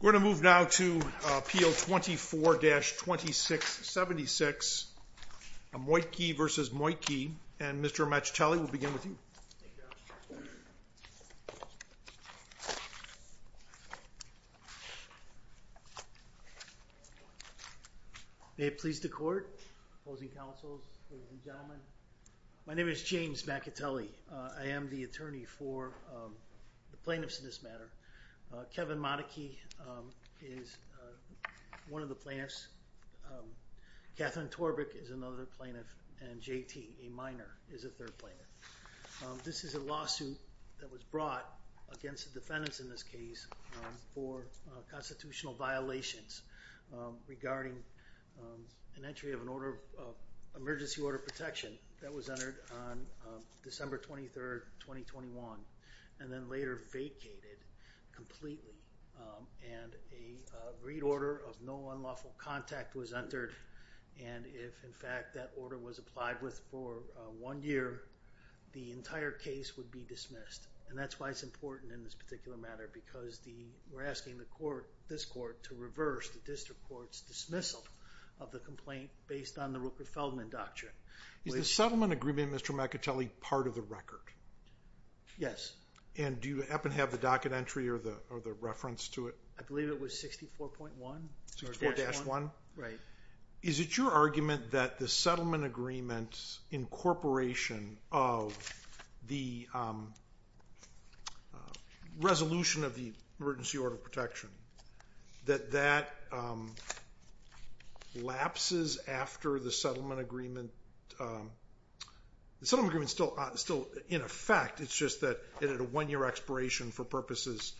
We're going to move now to PO 24-2676, Motykie v. Motykie, and Mr. Amacitelli, we'll begin with you. May it please the court, opposing counsels, ladies and gentlemen. My name is James Amacitelli. I am the attorney for the plaintiffs in this matter. Kevin Motykie is one of the plaintiffs. Katherine Torbik is another plaintiff, and JT, a minor, is a third plaintiff. This is a lawsuit that was brought against the defendants in this case for constitutional violations regarding an entry of an order of emergency order of protection that was entered on December 23, 2021, and then later vacated completely, and a read order of no unlawful contact was entered, and if in fact that order was applied with for one year, the entire case would be dismissed, and that's why it's important in this particular matter, because we're asking this court to reverse the district court's dismissal of the complaint based on the Rupert Feldman doctrine. Is the settlement agreement, Mr. Amacitelli, part of the record? Yes. And do you happen to have the docket entry or the reference to it? I believe it was 64.1 or 64-1. Right. Is it your argument that the settlement agreement incorporation of the resolution of the emergency order of protection, that that lapses after the settlement agreement? The settlement agreement is still in effect, it's just that it had a one-year expiration for purposes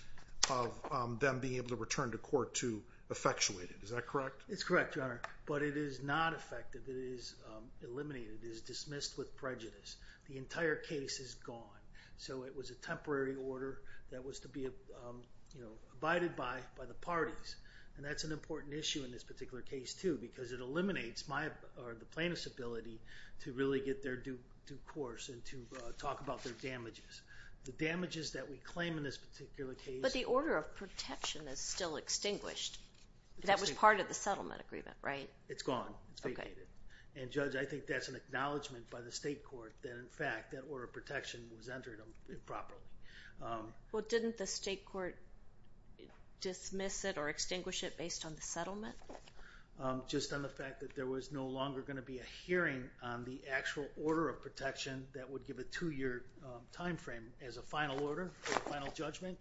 of them being able to return to court to effectuate it, is that correct? It's correct, Your Honor, but it is not effective. It is eliminated. It is dismissed with prejudice. The entire case is gone, so it was a temporary order that was to be abided by by the parties, and that's an important issue in this particular case too, because it eliminates the plaintiff's ability to really get their due course and to talk about their damages. The damages that we claim in this particular case... But the order of protection is still extinguished. That was part of the settlement agreement, right? It's gone. It's vacated. And Judge, I think that's an acknowledgement by the state court that in fact that order of protection was entered improperly. Well didn't the state court dismiss it or extinguish it based on the settlement? Just on the fact that there was no longer going to be a hearing on the actual order of protection that would give a two-year time frame as a final order, final judgment.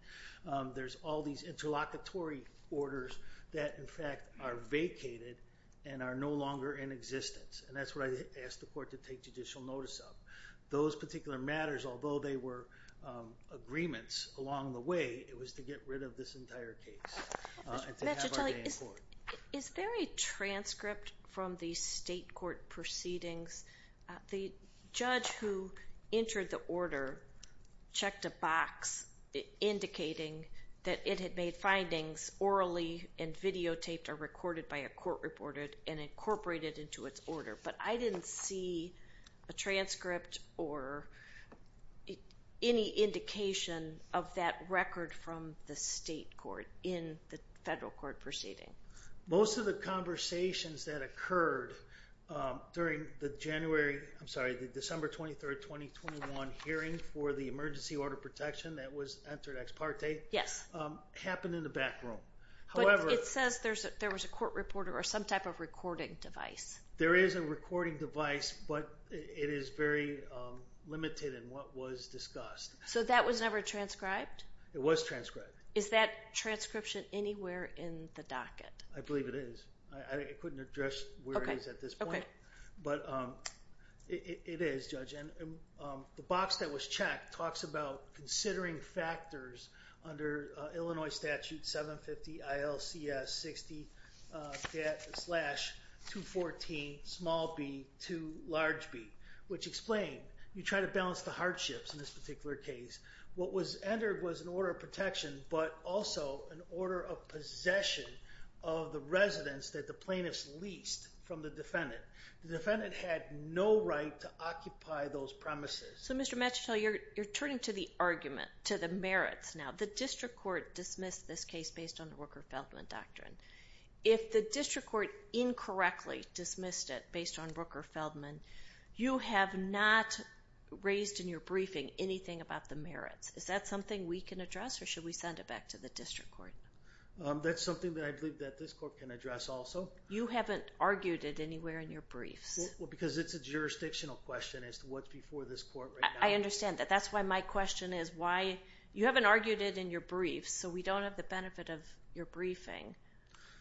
There's all these interlocutory orders that in fact are vacated and are no longer in existence, and that's what I asked the court to take judicial notice of. Those particular matters, although they were agreements along the way, it was to get rid of this entire case. Mr. Cotelli, is there a transcript from the state court proceedings? The judge who entered the order checked a box indicating that it had made findings orally and videotaped or recorded by a court reporter and incorporated into its order, but I didn't see a transcript or any indication of that record from the state court in the federal court proceeding. Most of the conversations that occurred during the December 23, 2021 hearing for the emergency order of protection that was entered ex parte happened in the back room. But it says there was a court reporter or some type of recording device. There is a recording device, but it is very limited in what was discussed. So that was never transcribed? It was transcribed. Is that transcription anywhere in the docket? I believe it is. I couldn't address where it is at this point. But it is, Judge, and the box that was checked talks about considering factors under Illinois Statute 750-ILCS-60-214-2B-2B, which explained you try to balance the hardships in this particular case. What was entered was an order of protection, but also an order of possession of the residents that the plaintiffs leased from the defendant. The defendant had no right to occupy those premises. So, Mr. Machetel, you're turning to the argument, to the merits now. The district court dismissed this case based on Rooker-Feldman doctrine. If the district court incorrectly dismissed it based on Rooker-Feldman, you have not raised in your briefing anything about the merits. Is that something we can address, or should we send it back to the district court? That's something that I believe that this court can address also. You haven't argued it anywhere in your briefs. Because it's a jurisdictional question as to what's before this court right now. I understand that. That's why my question is why you haven't argued it in your briefs, so we don't have the benefit of your briefing.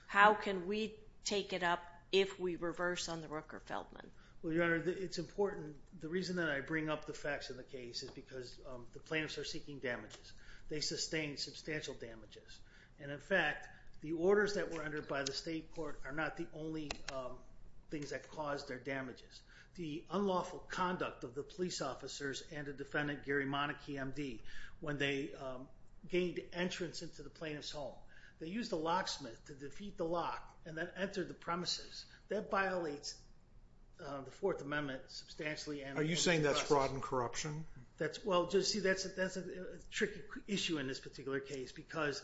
How can we take it up if we reverse on the Rooker-Feldman? Well, Your Honor, it's important. The reason that I bring up the facts of the case is because the plaintiffs are seeking damages. They sustained substantial damages. And in fact, the orders that were entered by the state court are not the only things that caused their damages. The unlawful conduct of the police officers and a defendant, Gary Monacchi, MD, when they gained entrance into the plaintiff's home. They used a locksmith to defeat the lock, and that entered the premises. That violates the Fourth Amendment substantially. Are you saying that's fraud and corruption? Well, see, that's a tricky issue in this particular case. Because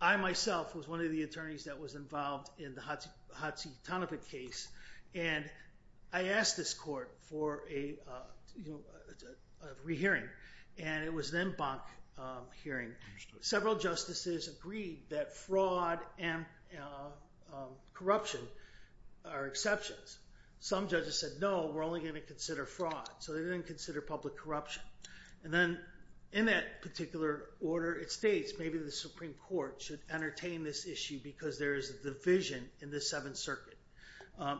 I myself was one of the attorneys that was involved in the Hatsi Tanepet case. And I asked this court for a re-hearing. And it was an en banc hearing. Several justices agreed that fraud and corruption are exceptions. Some judges said, no, we're only going to consider fraud. So they didn't consider public corruption. And then in that particular order, it states maybe the Supreme Court should entertain this issue, because there is a division in the Seventh Circuit,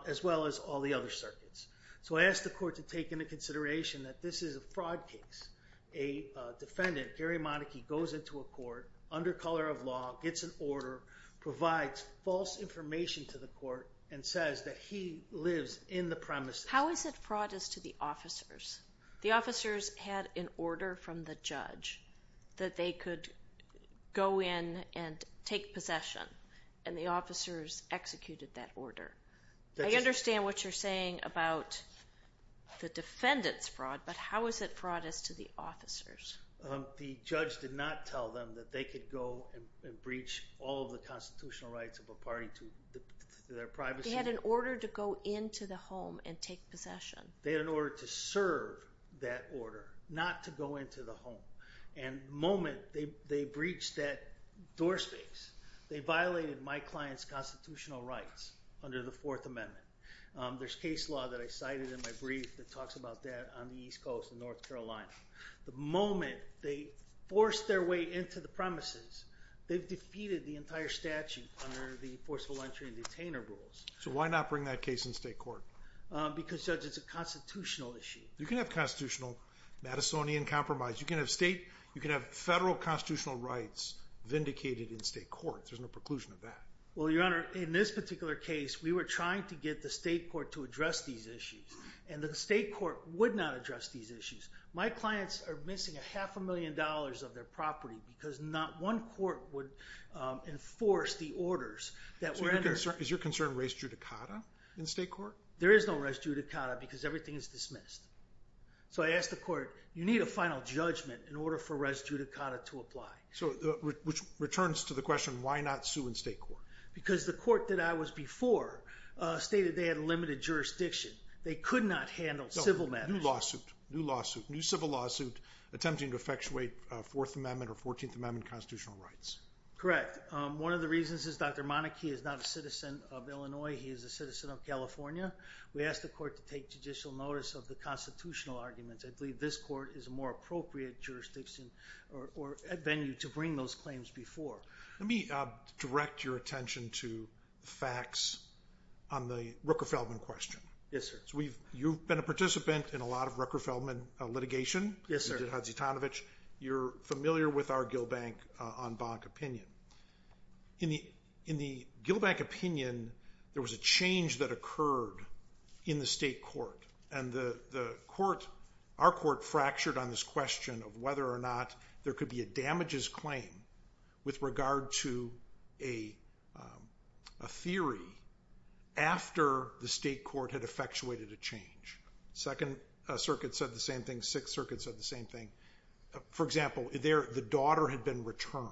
as well as all the other circuits. So I asked the court to take into consideration that this is a fraud case. A defendant, Gary Monacchi, goes into a court, under color of law, gets an order, provides false information to the court, and says that he lives in the premises. How is it fraud is to the officers? The officers had an order from the judge that they could go in and take possession. And the officers executed that order. I understand what you're saying about the defendant's fraud. But how is it fraud is to the officers? The judge did not tell them that they could go and breach all of the constitutional rights of a party to their privacy. They had an order to go into the home and take possession. They had an order to serve that order, not to go into the home. And the moment they breached that door space, they violated my client's constitutional rights under the Fourth Amendment. There's case law that I cited in my brief that talks about that on the East Coast in North Carolina. The moment they forced their way into the premises, they've defeated the entire statute under the forceful entry and detainer rules. So why not bring that case in state court? Because, Judge, it's a constitutional issue. You can have constitutional Madisonian compromise. You can have federal constitutional rights vindicated in state court. There's no preclusion of that. Well, Your Honor, in this particular case, we were trying to get the state court to address these issues. And the state court would not address these issues. My clients are missing a half a million dollars of their property, because not one court would enforce the orders that were entered. Is your concern res judicata in state court? There is no res judicata, because everything is dismissed. So I asked the court, you need a final judgment in order for res judicata to apply. So which returns to the question, why not sue in state court? Because the court that I was before stated they had limited jurisdiction. They could not handle civil matters. New lawsuit. New civil lawsuit attempting to effectuate Fourth Amendment or 14th Amendment constitutional rights. Correct. One of the reasons is Dr. Monike is not a citizen of Illinois. He is a citizen of California. We asked the court to take judicial notice of the constitutional arguments. I believe this court is a more appropriate jurisdiction or venue to bring those claims before. Let me direct your attention to facts on the Rooker-Feldman question. Yes, sir. You've been a participant in a lot of Rooker-Feldman litigation. Yes, sir. You did Hadzi Tonovich. You're familiar with our Gilbank on Bonk opinion. In the Gilbank opinion, there was a change that occurred in the state court. And our court fractured on this question of whether or not there could be a damages claim with regard to a theory after the state court had effectuated a change. Second Circuit said the same thing. Sixth Circuit said the same thing. For example, the daughter had been returned.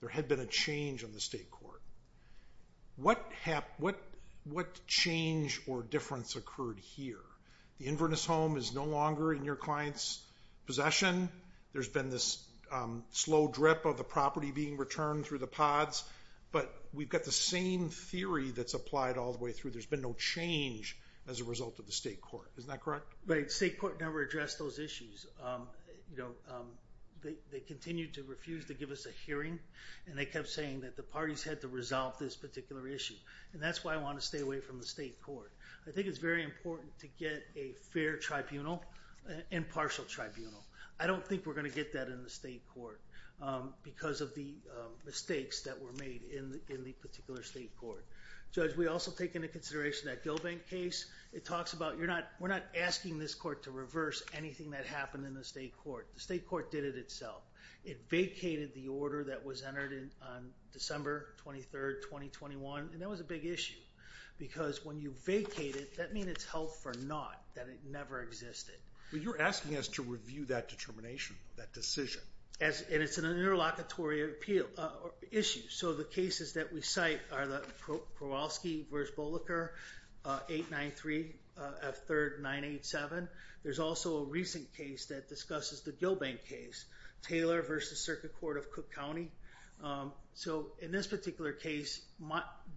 There had been a change in the state court. What change or difference occurred here? The Inverness home is no longer in your client's possession. There's been this slow drip of the property being returned through the pods. But we've got the same theory that's applied all the way through. There's been no change as a result of the state court. Isn't that correct? Right. State court never addressed those issues. They continued to refuse to give us a hearing. And they kept saying that the parties had to resolve this particular issue. And that's why I want to stay away from the state court. I think it's very important to get a fair tribunal and partial tribunal. I don't think we're going to get that in the state court because of the mistakes that were made in the particular state court. Judge, we also take into consideration that Gilbank case. It talks about we're not asking this court to reverse anything that happened in the state court. The state court did it itself. It vacated the order that was entered on December 23, 2021. And that was a big issue. Because when you vacate it, that means it's held for naught, that it never existed. Well, you're asking us to review that determination, that decision. And it's an interlocutory appeal issue. So the cases that we cite are the Kowalski v. Boliker, 893 F. 3rd 987. There's also a recent case that discusses the Gilbank case, Taylor v. Circuit Court of Cook County. So in this particular case,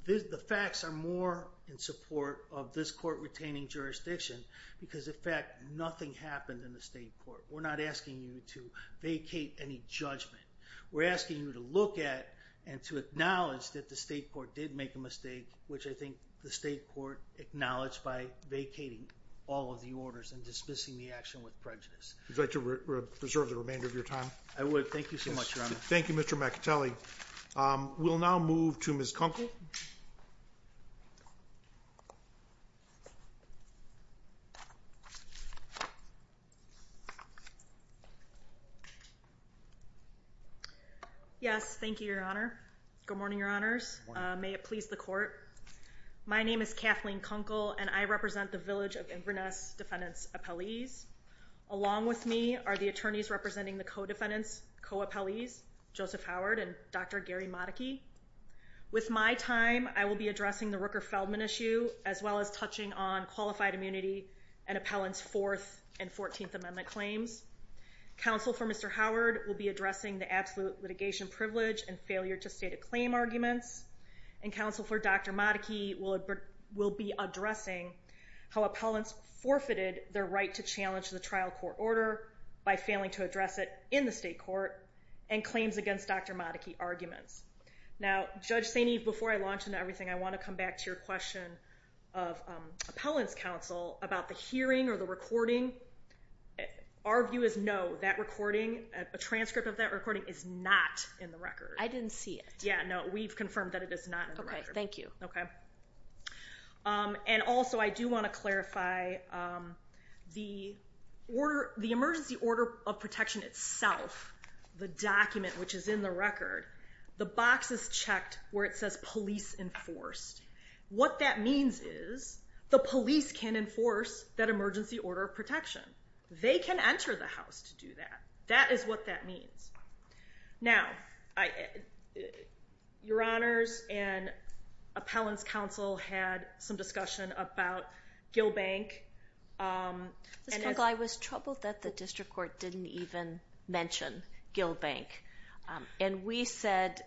the facts are more in support of this court retaining jurisdiction because, in fact, nothing happened in the state court. We're not asking you to vacate any judgment. We're asking you to look at and to acknowledge that the state court did make a mistake, which I think the state court acknowledged by vacating all of the orders and dismissing the action with prejudice. Would you like to reserve the remainder of your time? I would. Thank you so much, Your Honor. Thank you, Mr. McAtulley. We'll now move to Ms. Kunkel. Yes, thank you, Your Honor. Good morning, Your Honors. May it please the court. My name is Kathleen Kunkel, and I represent the Village of Inverness defendants' appellees. Along with me are the attorneys representing the co-defendants, co-appellees, Joseph Howard and Dr. Gary Modicchi. With my time, I will be addressing the Rooker-Feldman issue, as well as touching on qualified immunity and appellants' Fourth and 14th Amendment claims. Counsel for Mr. Howard will be addressing the absolute litigation privilege and failure to state a claim arguments. And counsel for Dr. Modicchi will be addressing how appellants forfeited their right to challenge the trial court order by failing to address it in the state court and claims against Dr. Modicchi arguments. Now, Judge St. Eve, before I launch into everything, I want to come back to your question of appellants' counsel about the hearing or the recording. Our view is no, that recording, a transcript of that recording is not in the record. I didn't see it. Yeah, no, we've confirmed that it is not in the record. OK, thank you. And also, I do want to clarify, the emergency order of protection itself, the document which is in the record, the box is checked where it says police enforced. What that means is the police can enforce that emergency order of protection. They can enter the house to do that. That is what that means. Now, your honors and appellants' counsel had some discussion about Gill Bank. Ms. Kugle, I was troubled that the district court didn't even mention Gill Bank. And we said,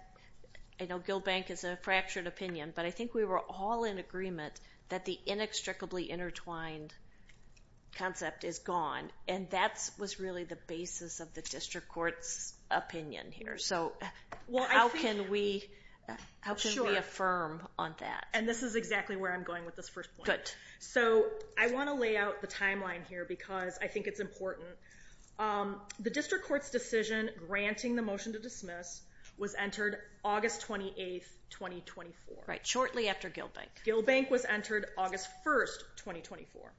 I know Gill Bank is a fractured opinion, but I think we were all in agreement that the inextricably intertwined concept is gone. And that was really the basis of the district court's opinion here. So how can we affirm on that? And this is exactly where I'm going with this first point. So I want to lay out the timeline here, because I think it's important. The district court's decision granting the motion to dismiss was entered August 28, 2024. Right, shortly after Gill Bank. Gill Bank was entered August 1, 2024,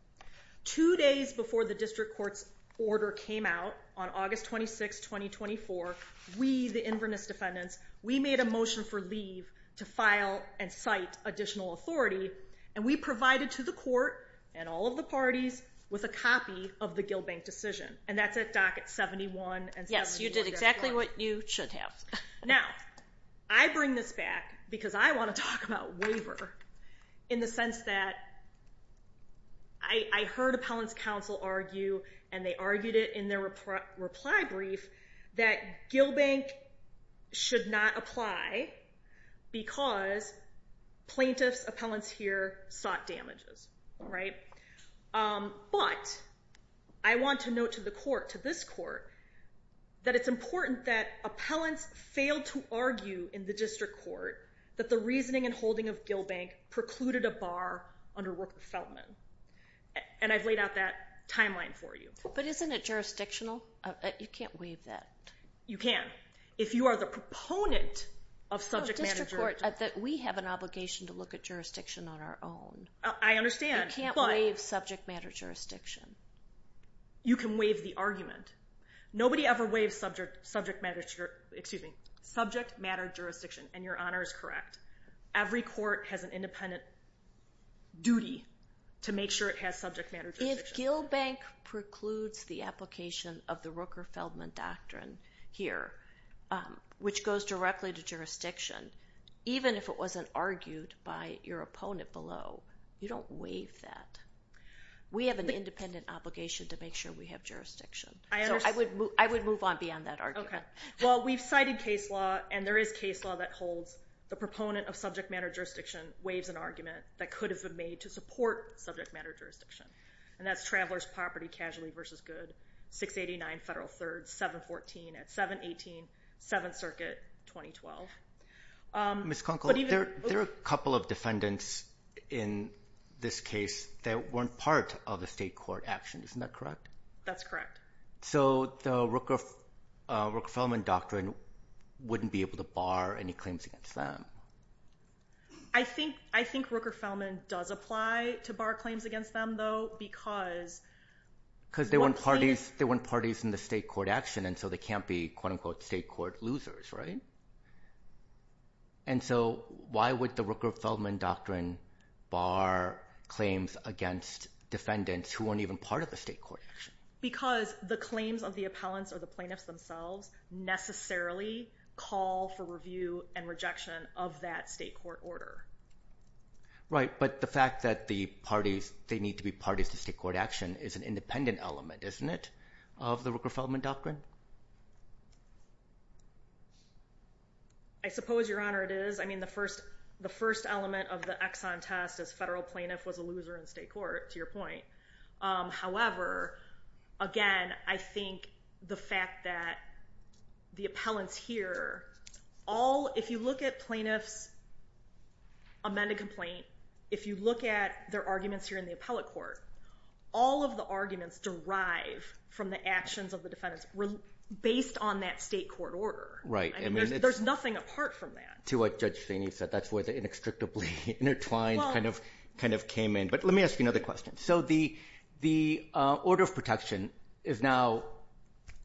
Two days before the district court's order came out, on August 26, 2024, we, the Inverness defendants, we made a motion for leave to file and cite additional authority. And we provided to the court and all of the parties with a copy of the Gill Bank decision. And that's at docket 71 and 71. Yes, you did exactly what you should have. Now, I bring this back, because I want to talk about waiver, in the sense that I heard appellants counsel argue, and they argued it in their reply brief, that Gill Bank should not apply, because plaintiffs, appellants here, sought damages. But I want to note to the court, to this court, that it's important that appellants fail to argue in the district court that the reasoning and holding of Gill Bank precluded a bar under Rooker-Feldman. And I've laid out that timeline for you. But isn't it jurisdictional? You can't waive that. You can. If you are the proponent of subject matter jurisdiction. No, district court, we have an obligation to look at jurisdiction on our own. I understand, but. You can't waive subject matter jurisdiction. You can waive the argument. Nobody ever waives subject matter jurisdiction, and your honor is correct. Every court has an independent duty to make sure it has subject matter jurisdiction. If Gill Bank precludes the application of the Rooker-Feldman doctrine here, which goes directly to jurisdiction, even if it wasn't argued by your opponent below, you don't waive that. We have an independent obligation to make sure we have jurisdiction. I would move on beyond that argument. Well, we've cited case law, and there is case law that holds the proponent of subject matter jurisdiction waives an argument that could have been made to support subject matter jurisdiction. And that's Travelers' Property Casualty versus Good, 689 Federal 3rd, 714 at 718, 7th Circuit, 2012. Ms. Conkle, there are a couple of defendants in this case that weren't part of the state court action. Isn't that correct? That's correct. So the Rooker-Feldman doctrine wouldn't be able to bar any claims against them. I think Rooker-Feldman does apply to bar claims against them, though, because one can't. Because they weren't parties in the state court action, and so they can't be, quote unquote, state court losers, right? And so why would the Rooker-Feldman doctrine bar claims against defendants who weren't even part of the state court action? Because the claims of the appellants or the plaintiffs themselves necessarily call for review and rejection of that state court order. Right, but the fact that they need to be parties to state court action is an independent element, isn't it, of the Rooker-Feldman doctrine? I suppose, Your Honor, it is. I mean, the first element of the Exxon test is federal plaintiff was a loser in state court, to your point. However, again, I think the fact that the appellants here, if you look at plaintiffs' amended complaint, if you look at their arguments here in the appellate court, all of the arguments derive from the actions of the defendants based on that state court order. Right. There's nothing apart from that. To what Judge Staney said. That's where the inextricably intertwined kind of came in. But let me ask you another question. The order of protection is now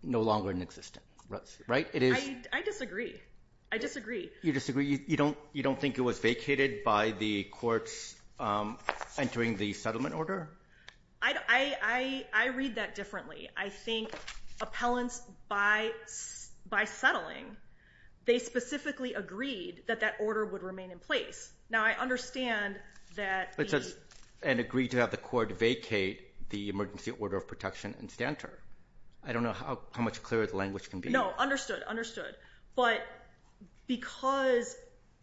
no longer in existence, right? It is? I disagree. I disagree. You disagree? You don't think it was vacated by the courts entering the settlement order? I read that differently. I think appellants, by settling, they specifically agreed that that order would remain in place. Now, I understand that the- to vacate the emergency order of protection and stanter. I don't know how much clearer the language can be. No, understood, understood. But because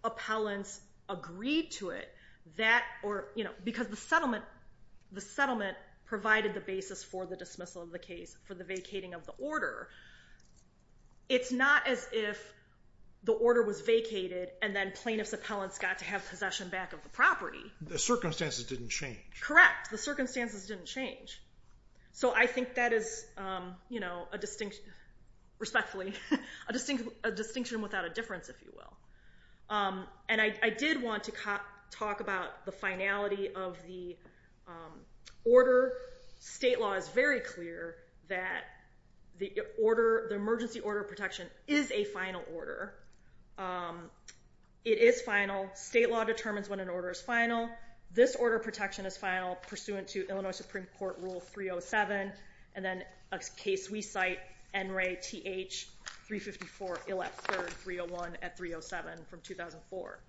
appellants agreed to it, that or, you know, because the settlement provided the basis for the dismissal of the case, for the vacating of the order, it's not as if the order was vacated and then plaintiff's appellants got to have possession back of the property. The circumstances didn't change. Correct. The circumstances didn't change. So I think that is, you know, a distinction, respectfully, a distinction without a difference, if you will. And I did want to talk about the finality of the order. State law is very clear that the order, the emergency order of protection, is a final order. It is final. State law determines when an order is final. This order of protection is final. Pursuant to Illinois Supreme Court Rule 307, and then a case we cite, N. Ray TH 354, ill at third, 301 at 307 from 2004.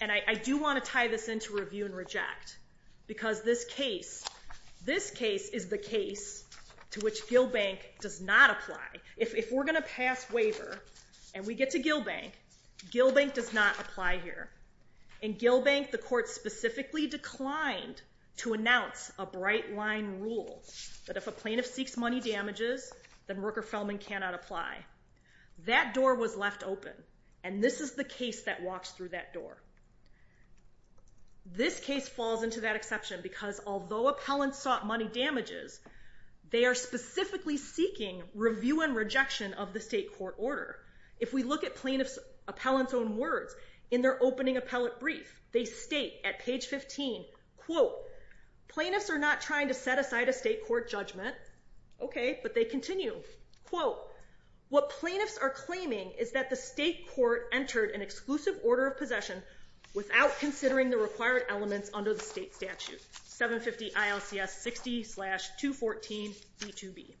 And I do want to tie this into review and reject, because this case, this case is the case to which Gilbank does not apply. If we're going to pass waiver and we get to Gilbank, Gilbank does not apply here. In Gilbank, the court specifically declined to announce a bright line rule that if a plaintiff seeks money damages, then Rooker-Feldman cannot apply. That door was left open. And this is the case that walks through that door. This case falls into that exception, because although appellants sought money damages, they are specifically seeking review and rejection of the state court order. If we look at plaintiff's appellant's own words in their opening appellate brief, they state at page 15, quote, plaintiffs are not trying to set aside a state court judgment. OK, but they continue. Quote, what plaintiffs are claiming is that the state court entered an exclusive order of possession without considering the required elements under the state statute, 750 ILCS 60 slash 214 B2B.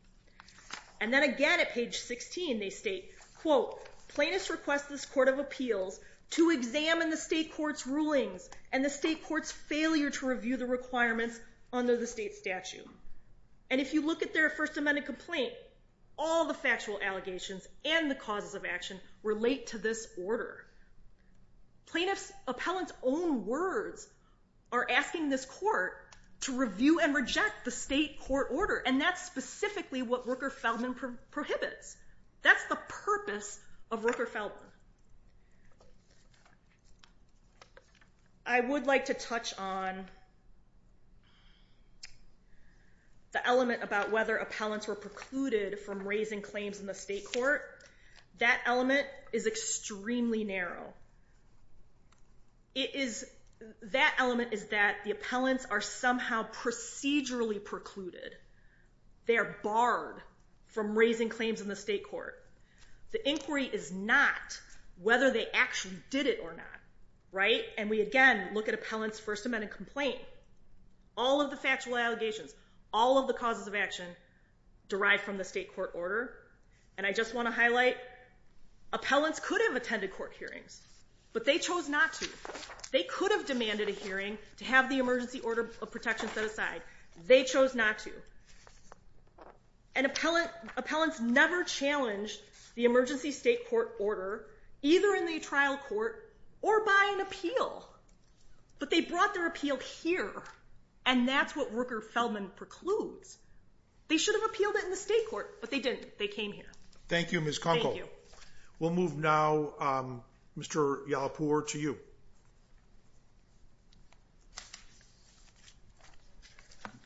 And then again at page 16, they state, quote, plaintiffs request this court of appeals to examine the state court's rulings and the state court's failure to review the requirements under the state statute. And if you look at their First Amendment complaint, all the factual allegations and the causes of action relate to this order. Plaintiff's appellant's own words are asking this court to review and reject the state court order, and that's specifically what Rooker-Feldman prohibits. That's the purpose of Rooker-Feldman. I would like to touch on the element about whether appellants were precluded from raising claims in the state court. That element is extremely narrow. It is that element is that the appellants are somehow procedurally precluded. They are barred from raising claims in the state court. The inquiry is not whether they actually did it or not, right? And we again look at appellant's First Amendment complaint. All of the factual allegations, all of the causes of action derived from the state court order. And I just want to highlight, appellants could have attended court hearings, but they chose not to. They could have demanded a hearing to have the emergency order of protection set aside. They chose not to. And appellants never challenged the emergency state court order either in the trial court or by an appeal. But they brought their appeal here, and that's what Rooker-Feldman precludes. They should have appealed it in the state court, but they didn't. They came here. Thank you, Ms. Conkle. Thank you. We'll move now, Mr. Yalopur, to you.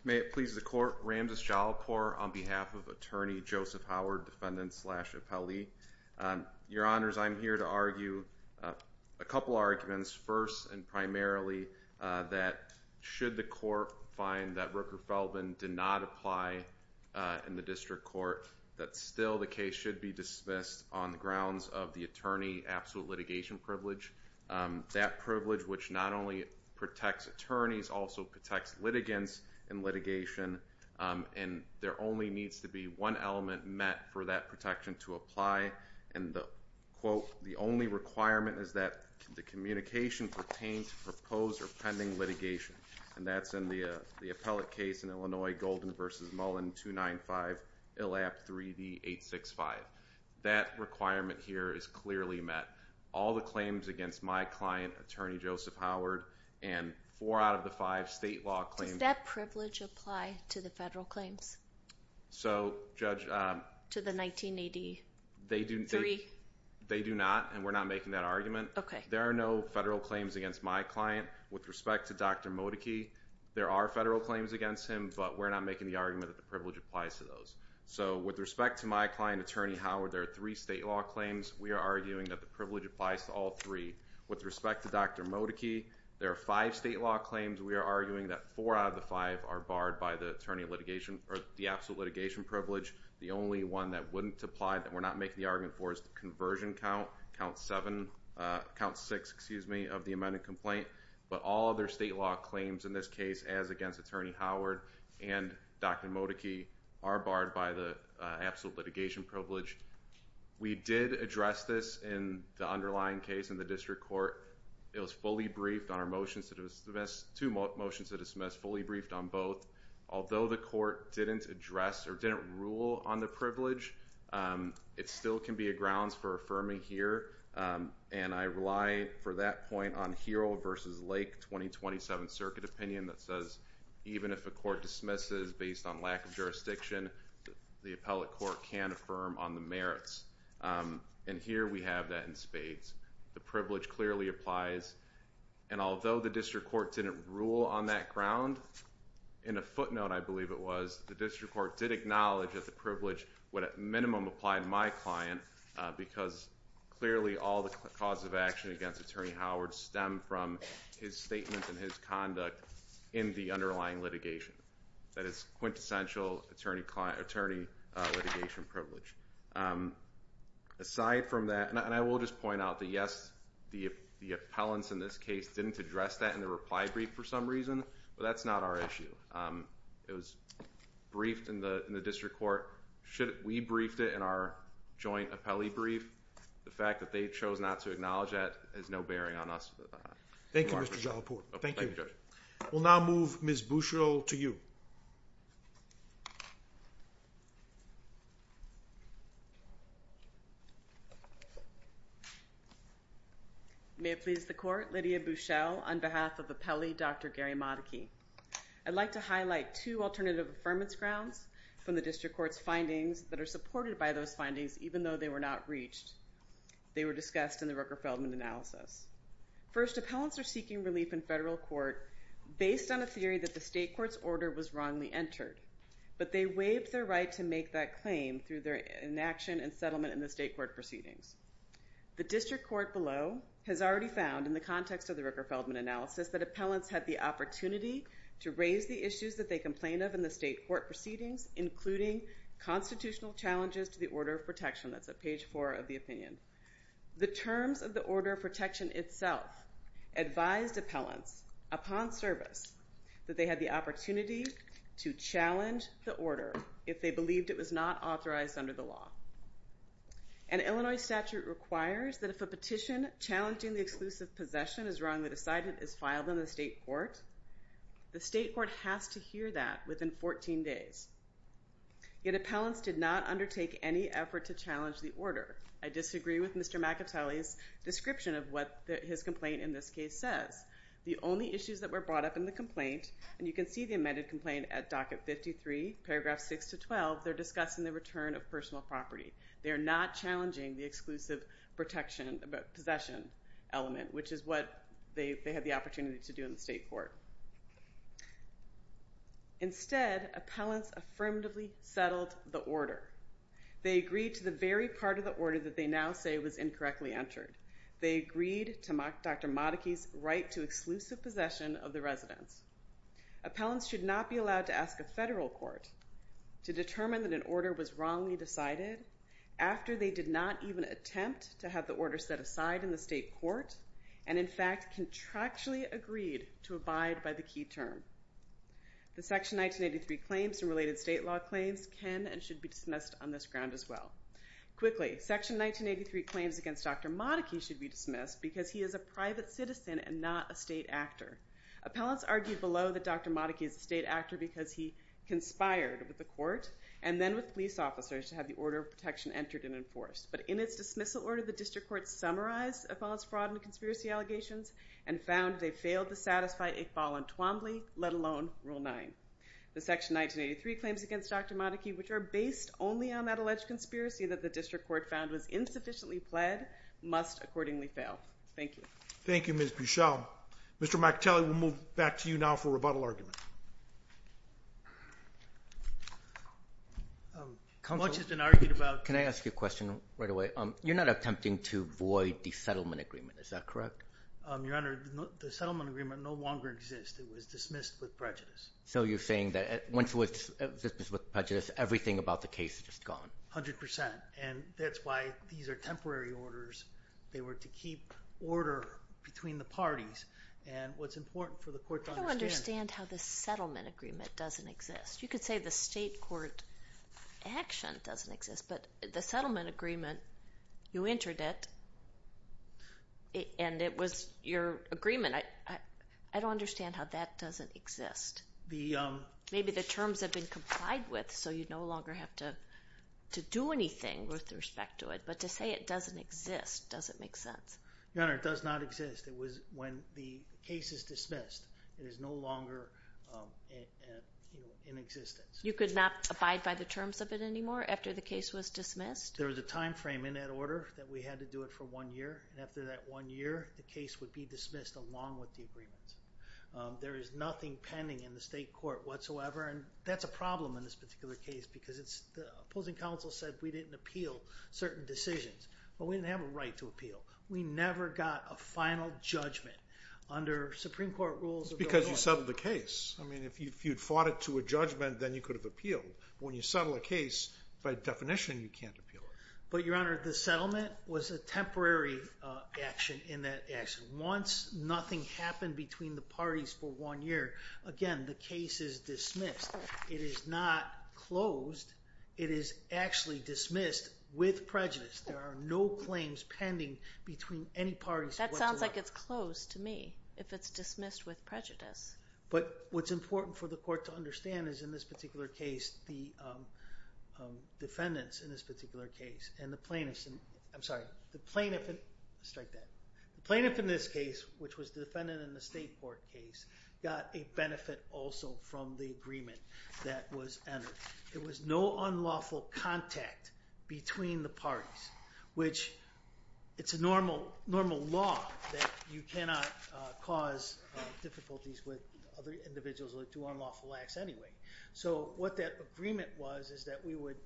May it please the court, Ramses Yalopur on behalf of attorney Joseph Howard, defendant slash appellee. Your honors, I'm here to argue a couple arguments. First and primarily, that should the court find that Rooker-Feldman did not apply in the district court, that still the case should be dismissed on the grounds of the attorney absolute litigation privilege. That privilege, which not only protects attorneys, also protects litigants in litigation. And there only needs to be one element met for that protection to apply. And quote, the only requirement is that the communication pertains to proposed or pending litigation. And that's in the appellate case in Illinois, Golden versus Mullen 295, ILAP 3D 865. That requirement here is clearly met. All the claims against my client, attorney Joseph Howard, and four out of the five state law claims. Does that privilege apply to the federal claims? So judge, um. To the 1983? They do not, and we're not making that argument. There are no federal claims against my client. With respect to Dr. Modicchi, there are federal claims against him, but we're not making the argument that the privilege applies to those. So with respect to my client, attorney Howard, there are three state law claims. We are arguing that the privilege applies to all three. With respect to Dr. Modicchi, there are five state law claims. We are arguing that four out of the five are barred by the absolute litigation privilege. The only one that wouldn't apply that we're not making the argument for is the conversion count, count six, excuse me, of the amended complaint. But all other state law claims in this case, as against attorney Howard and Dr. Modicchi, are barred by the absolute litigation privilege. We did address this in the underlying case in the district court. It was fully briefed on our motions to dismiss, two motions to dismiss, fully briefed on both. Although the court didn't address or didn't rule on the privilege, it still can be a grounds for affirming here. And I rely, for that point, on Hero versus Lake 2027 Circuit opinion that says, even if a court dismisses based on lack of jurisdiction, the appellate court can affirm on the merits. And here we have that in spades. The privilege clearly applies. And although the district court didn't rule on that ground, in a footnote, I believe it was, the district court did acknowledge that the privilege would, at minimum, apply to my client. Because clearly, all the cause of action against attorney Howard stemmed from his statement and his conduct in the underlying litigation. That is quintessential attorney litigation privilege. Aside from that, and I will just point out that, yes, the appellants in this case didn't address that in the reply brief for some reason. But that's not our issue. It was briefed in the district court. We briefed it in our joint appellee brief. The fact that they chose not to acknowledge that has no bearing on us. Thank you, Mr. Jalapur. Thank you. We'll now move Ms. Bushell to you. May it please the court, Lydia Bushell, on behalf of appellee Dr. Gary Matake. I'd like to highlight two alternative affirmance grounds from the district court's findings that are supported by those findings, even though they were not reached. They were discussed in the Rooker-Feldman analysis. First, appellants are seeking relief in federal court based on a theory that the state court's order was wrongly entered, but they waived their right to make that claim through their inaction and settlement in the state court proceedings. The district court below has already found in the context of the Rooker-Feldman analysis that appellants had the opportunity to raise the issues that they complained of in the state court proceedings, including constitutional challenges to the order of protection. That's at page four of the opinion. The terms of the order of protection itself advised appellants, upon service, that they had the opportunity to challenge the order if they believed it was not authorized under the law. An Illinois statute requires that if a petition challenging the exclusive possession is wrong, the decidement is filed in the state court. The state court has to hear that within 14 days. Yet appellants did not undertake any effort to challenge the order. I disagree with Mr. McIntyre's description of what his complaint in this case says. The only issues that were brought up in the complaint, and you can see the amended complaint at docket 53, paragraph 6 to 12, they're discussing the return of personal property. They are not challenging the exclusive possession element, which is what they had the opportunity to do in the state court. Instead, appellants affirmatively settled the order. They agreed to the very part of the order that they now say was incorrectly entered. They agreed to Dr. Modicchi's right to exclusive possession of the residence. Appellants should not be allowed to ask a federal court to determine that an order was wrongly decided after they did not even attempt to have the order set aside in the state court, and in fact, contractually agreed to abide by the key term. The section 1983 claims and related state law claims can and should be dismissed on this ground as well. Quickly, section 1983 claims against Dr. Modicchi should be dismissed because he is a private citizen and not a state actor. Appellants argued below that Dr. Modicchi is a state actor because he conspired with the court and then with police officers to have the order of protection entered and enforced. But in its dismissal order, the district court summarized appellant's fraud and conspiracy allegations and found they failed to satisfy a voluntuamly, let alone, Rule 9. The section 1983 claims against Dr. Modicchi, which are based only on that alleged conspiracy that the district court found was insufficiently pled, must accordingly fail. Thank you. Thank you, Ms. Buchel. Mr. McAtally, we'll move back to you now for rebuttal argument. Much has been argued about. Can I ask you a question right away? You're not attempting to void the settlement agreement. Is that correct? Your Honor, the settlement agreement no longer exists. It was dismissed with prejudice. So you're saying that once it was dismissed with prejudice, everything about the case is just gone. 100%. And that's why these are temporary orders. They were to keep order between the parties. And what's important for the court to understand. I don't understand how the settlement agreement doesn't exist. You could say the state court action doesn't exist. But the settlement agreement, you entered it. And it was your agreement. I don't understand how that doesn't exist. Maybe the terms have been complied with, so you no longer have to do anything with respect to it. But to say it doesn't exist doesn't make sense. Your Honor, it does not exist. It was when the case is dismissed, it is no longer in existence. You could not abide by the terms of it anymore after the case was dismissed? There was a time frame in that order that we had to do it for one year. And after that one year, the case would be dismissed along with the agreement. There is nothing pending in the state court whatsoever. And that's a problem in this particular case. Because the opposing counsel said that we didn't appeal certain decisions. But we didn't have a right to appeal. We never got a final judgment under Supreme Court rules. Because you settled the case. I mean, if you'd fought it to a judgment, then you could have appealed. When you settle a case, by definition, you can't appeal. But Your Honor, the settlement was a temporary action in that action. Once nothing happened between the parties for one year, again, the case is dismissed. It is not closed. It is actually dismissed with prejudice. There are no claims pending between any parties whatsoever. That sounds like it's closed to me, if it's dismissed with prejudice. But what's important for the court to understand is in this particular case, the defendants in this particular case and the plaintiffs. I'm sorry, the plaintiff in this case, which was the defendant in the state court case, got a benefit also from the agreement that was entered. It was no unlawful contact between the parties, which it's a normal law that you cannot cause difficulties with other individuals who do unlawful acts anyway. So what that agreement was is that we would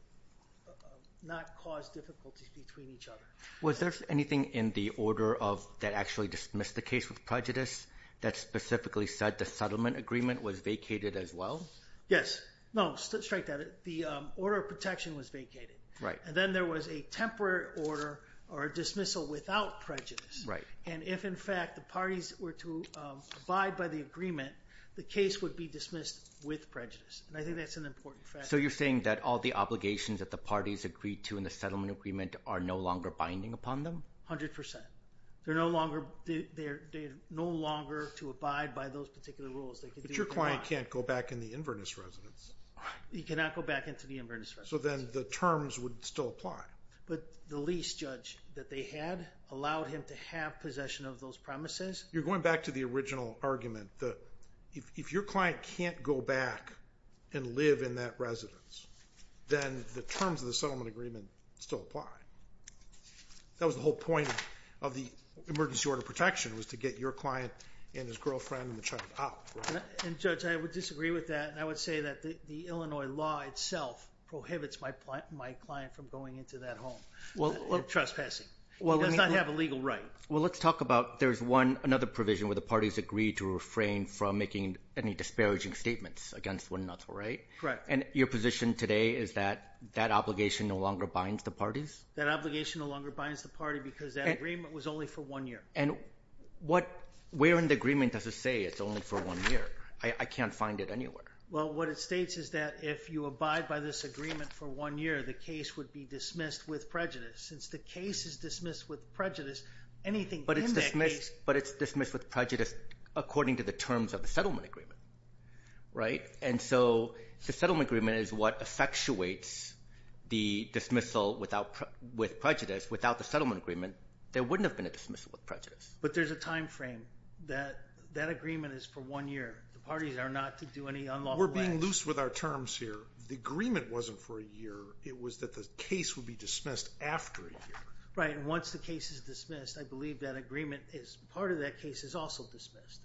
not cause difficulties between each other. Was there anything in the order that actually dismissed the case with prejudice that specifically said the settlement agreement was vacated as well? Yes. No, strike that. The order of protection was vacated. And then there was a temporary order or a dismissal without prejudice. And if in fact the parties were to abide by the agreement, the case would be dismissed with prejudice. And I think that's an important fact. So you're saying that all the obligations that the parties agreed to in the settlement agreement are no longer binding upon them? 100%. They're no longer to abide by those particular rules. But your client can't go back in the Inverness residence. He cannot go back into the Inverness residence. So then the terms would still apply. But the lease judge that they had allowed him to have possession of those premises. You're going back to the original argument that if your client can't go back and live in that residence then the terms of the settlement agreement still apply. That was the whole point of the emergency order of protection was to get your client and his girlfriend and the child out. And Judge, I would disagree with that. And I would say that the Illinois law itself prohibits my client from going into that home. Well, trespassing. It does not have a legal right. Well, let's talk about there's another provision where the parties agreed to refrain from making any disparaging statements against one another, right? Correct. And your position today is that that obligation no longer binds the parties? That obligation no longer binds the party because that agreement was only for one year. And where in the agreement does it say it's only for one year? I can't find it anywhere. Well, what it states is that if you abide by this agreement for one year the case would be dismissed with prejudice. Since the case is dismissed with prejudice, anything in that case- But it's dismissed with prejudice according to the terms of the settlement agreement, right? And so the settlement agreement is what effectuates the dismissal with prejudice. Without the settlement agreement there wouldn't have been a dismissal with prejudice. But there's a timeframe that that agreement is for one year. The parties are not to do any unlawful acts. We're being loose with our terms here. The agreement wasn't for a year. It was that the case would be dismissed after a year. Right, and once the case is dismissed I believe that agreement is, part of that case is also dismissed.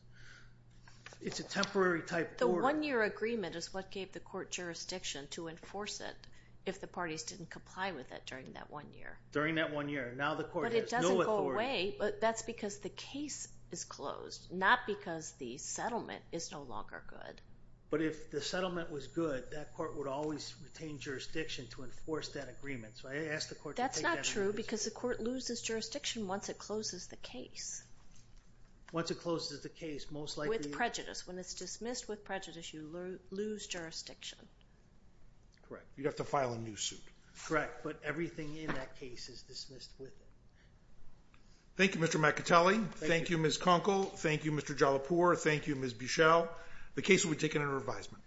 It's a temporary type order. The one year agreement is what gave the court jurisdiction to enforce it if the parties didn't comply with it during that one year. During that one year. Now the court has no authority- But that's because the case is closed. Not because the settlement is no longer good. But if the settlement was good, that court would always retain jurisdiction to enforce that agreement. So I ask the court to take that- That's not true because the court loses jurisdiction once it closes the case. Once it closes the case, most likely- With prejudice. When it's dismissed with prejudice you lose jurisdiction. Correct, you'd have to file a new suit. Correct, but everything in that case is dismissed with it. Thank you, Mr. McAtully. Thank you, Ms. Conkle. Thank you, Mr. Jalapour. Thank you, Ms. Bichelle. The case will be taken under advisement.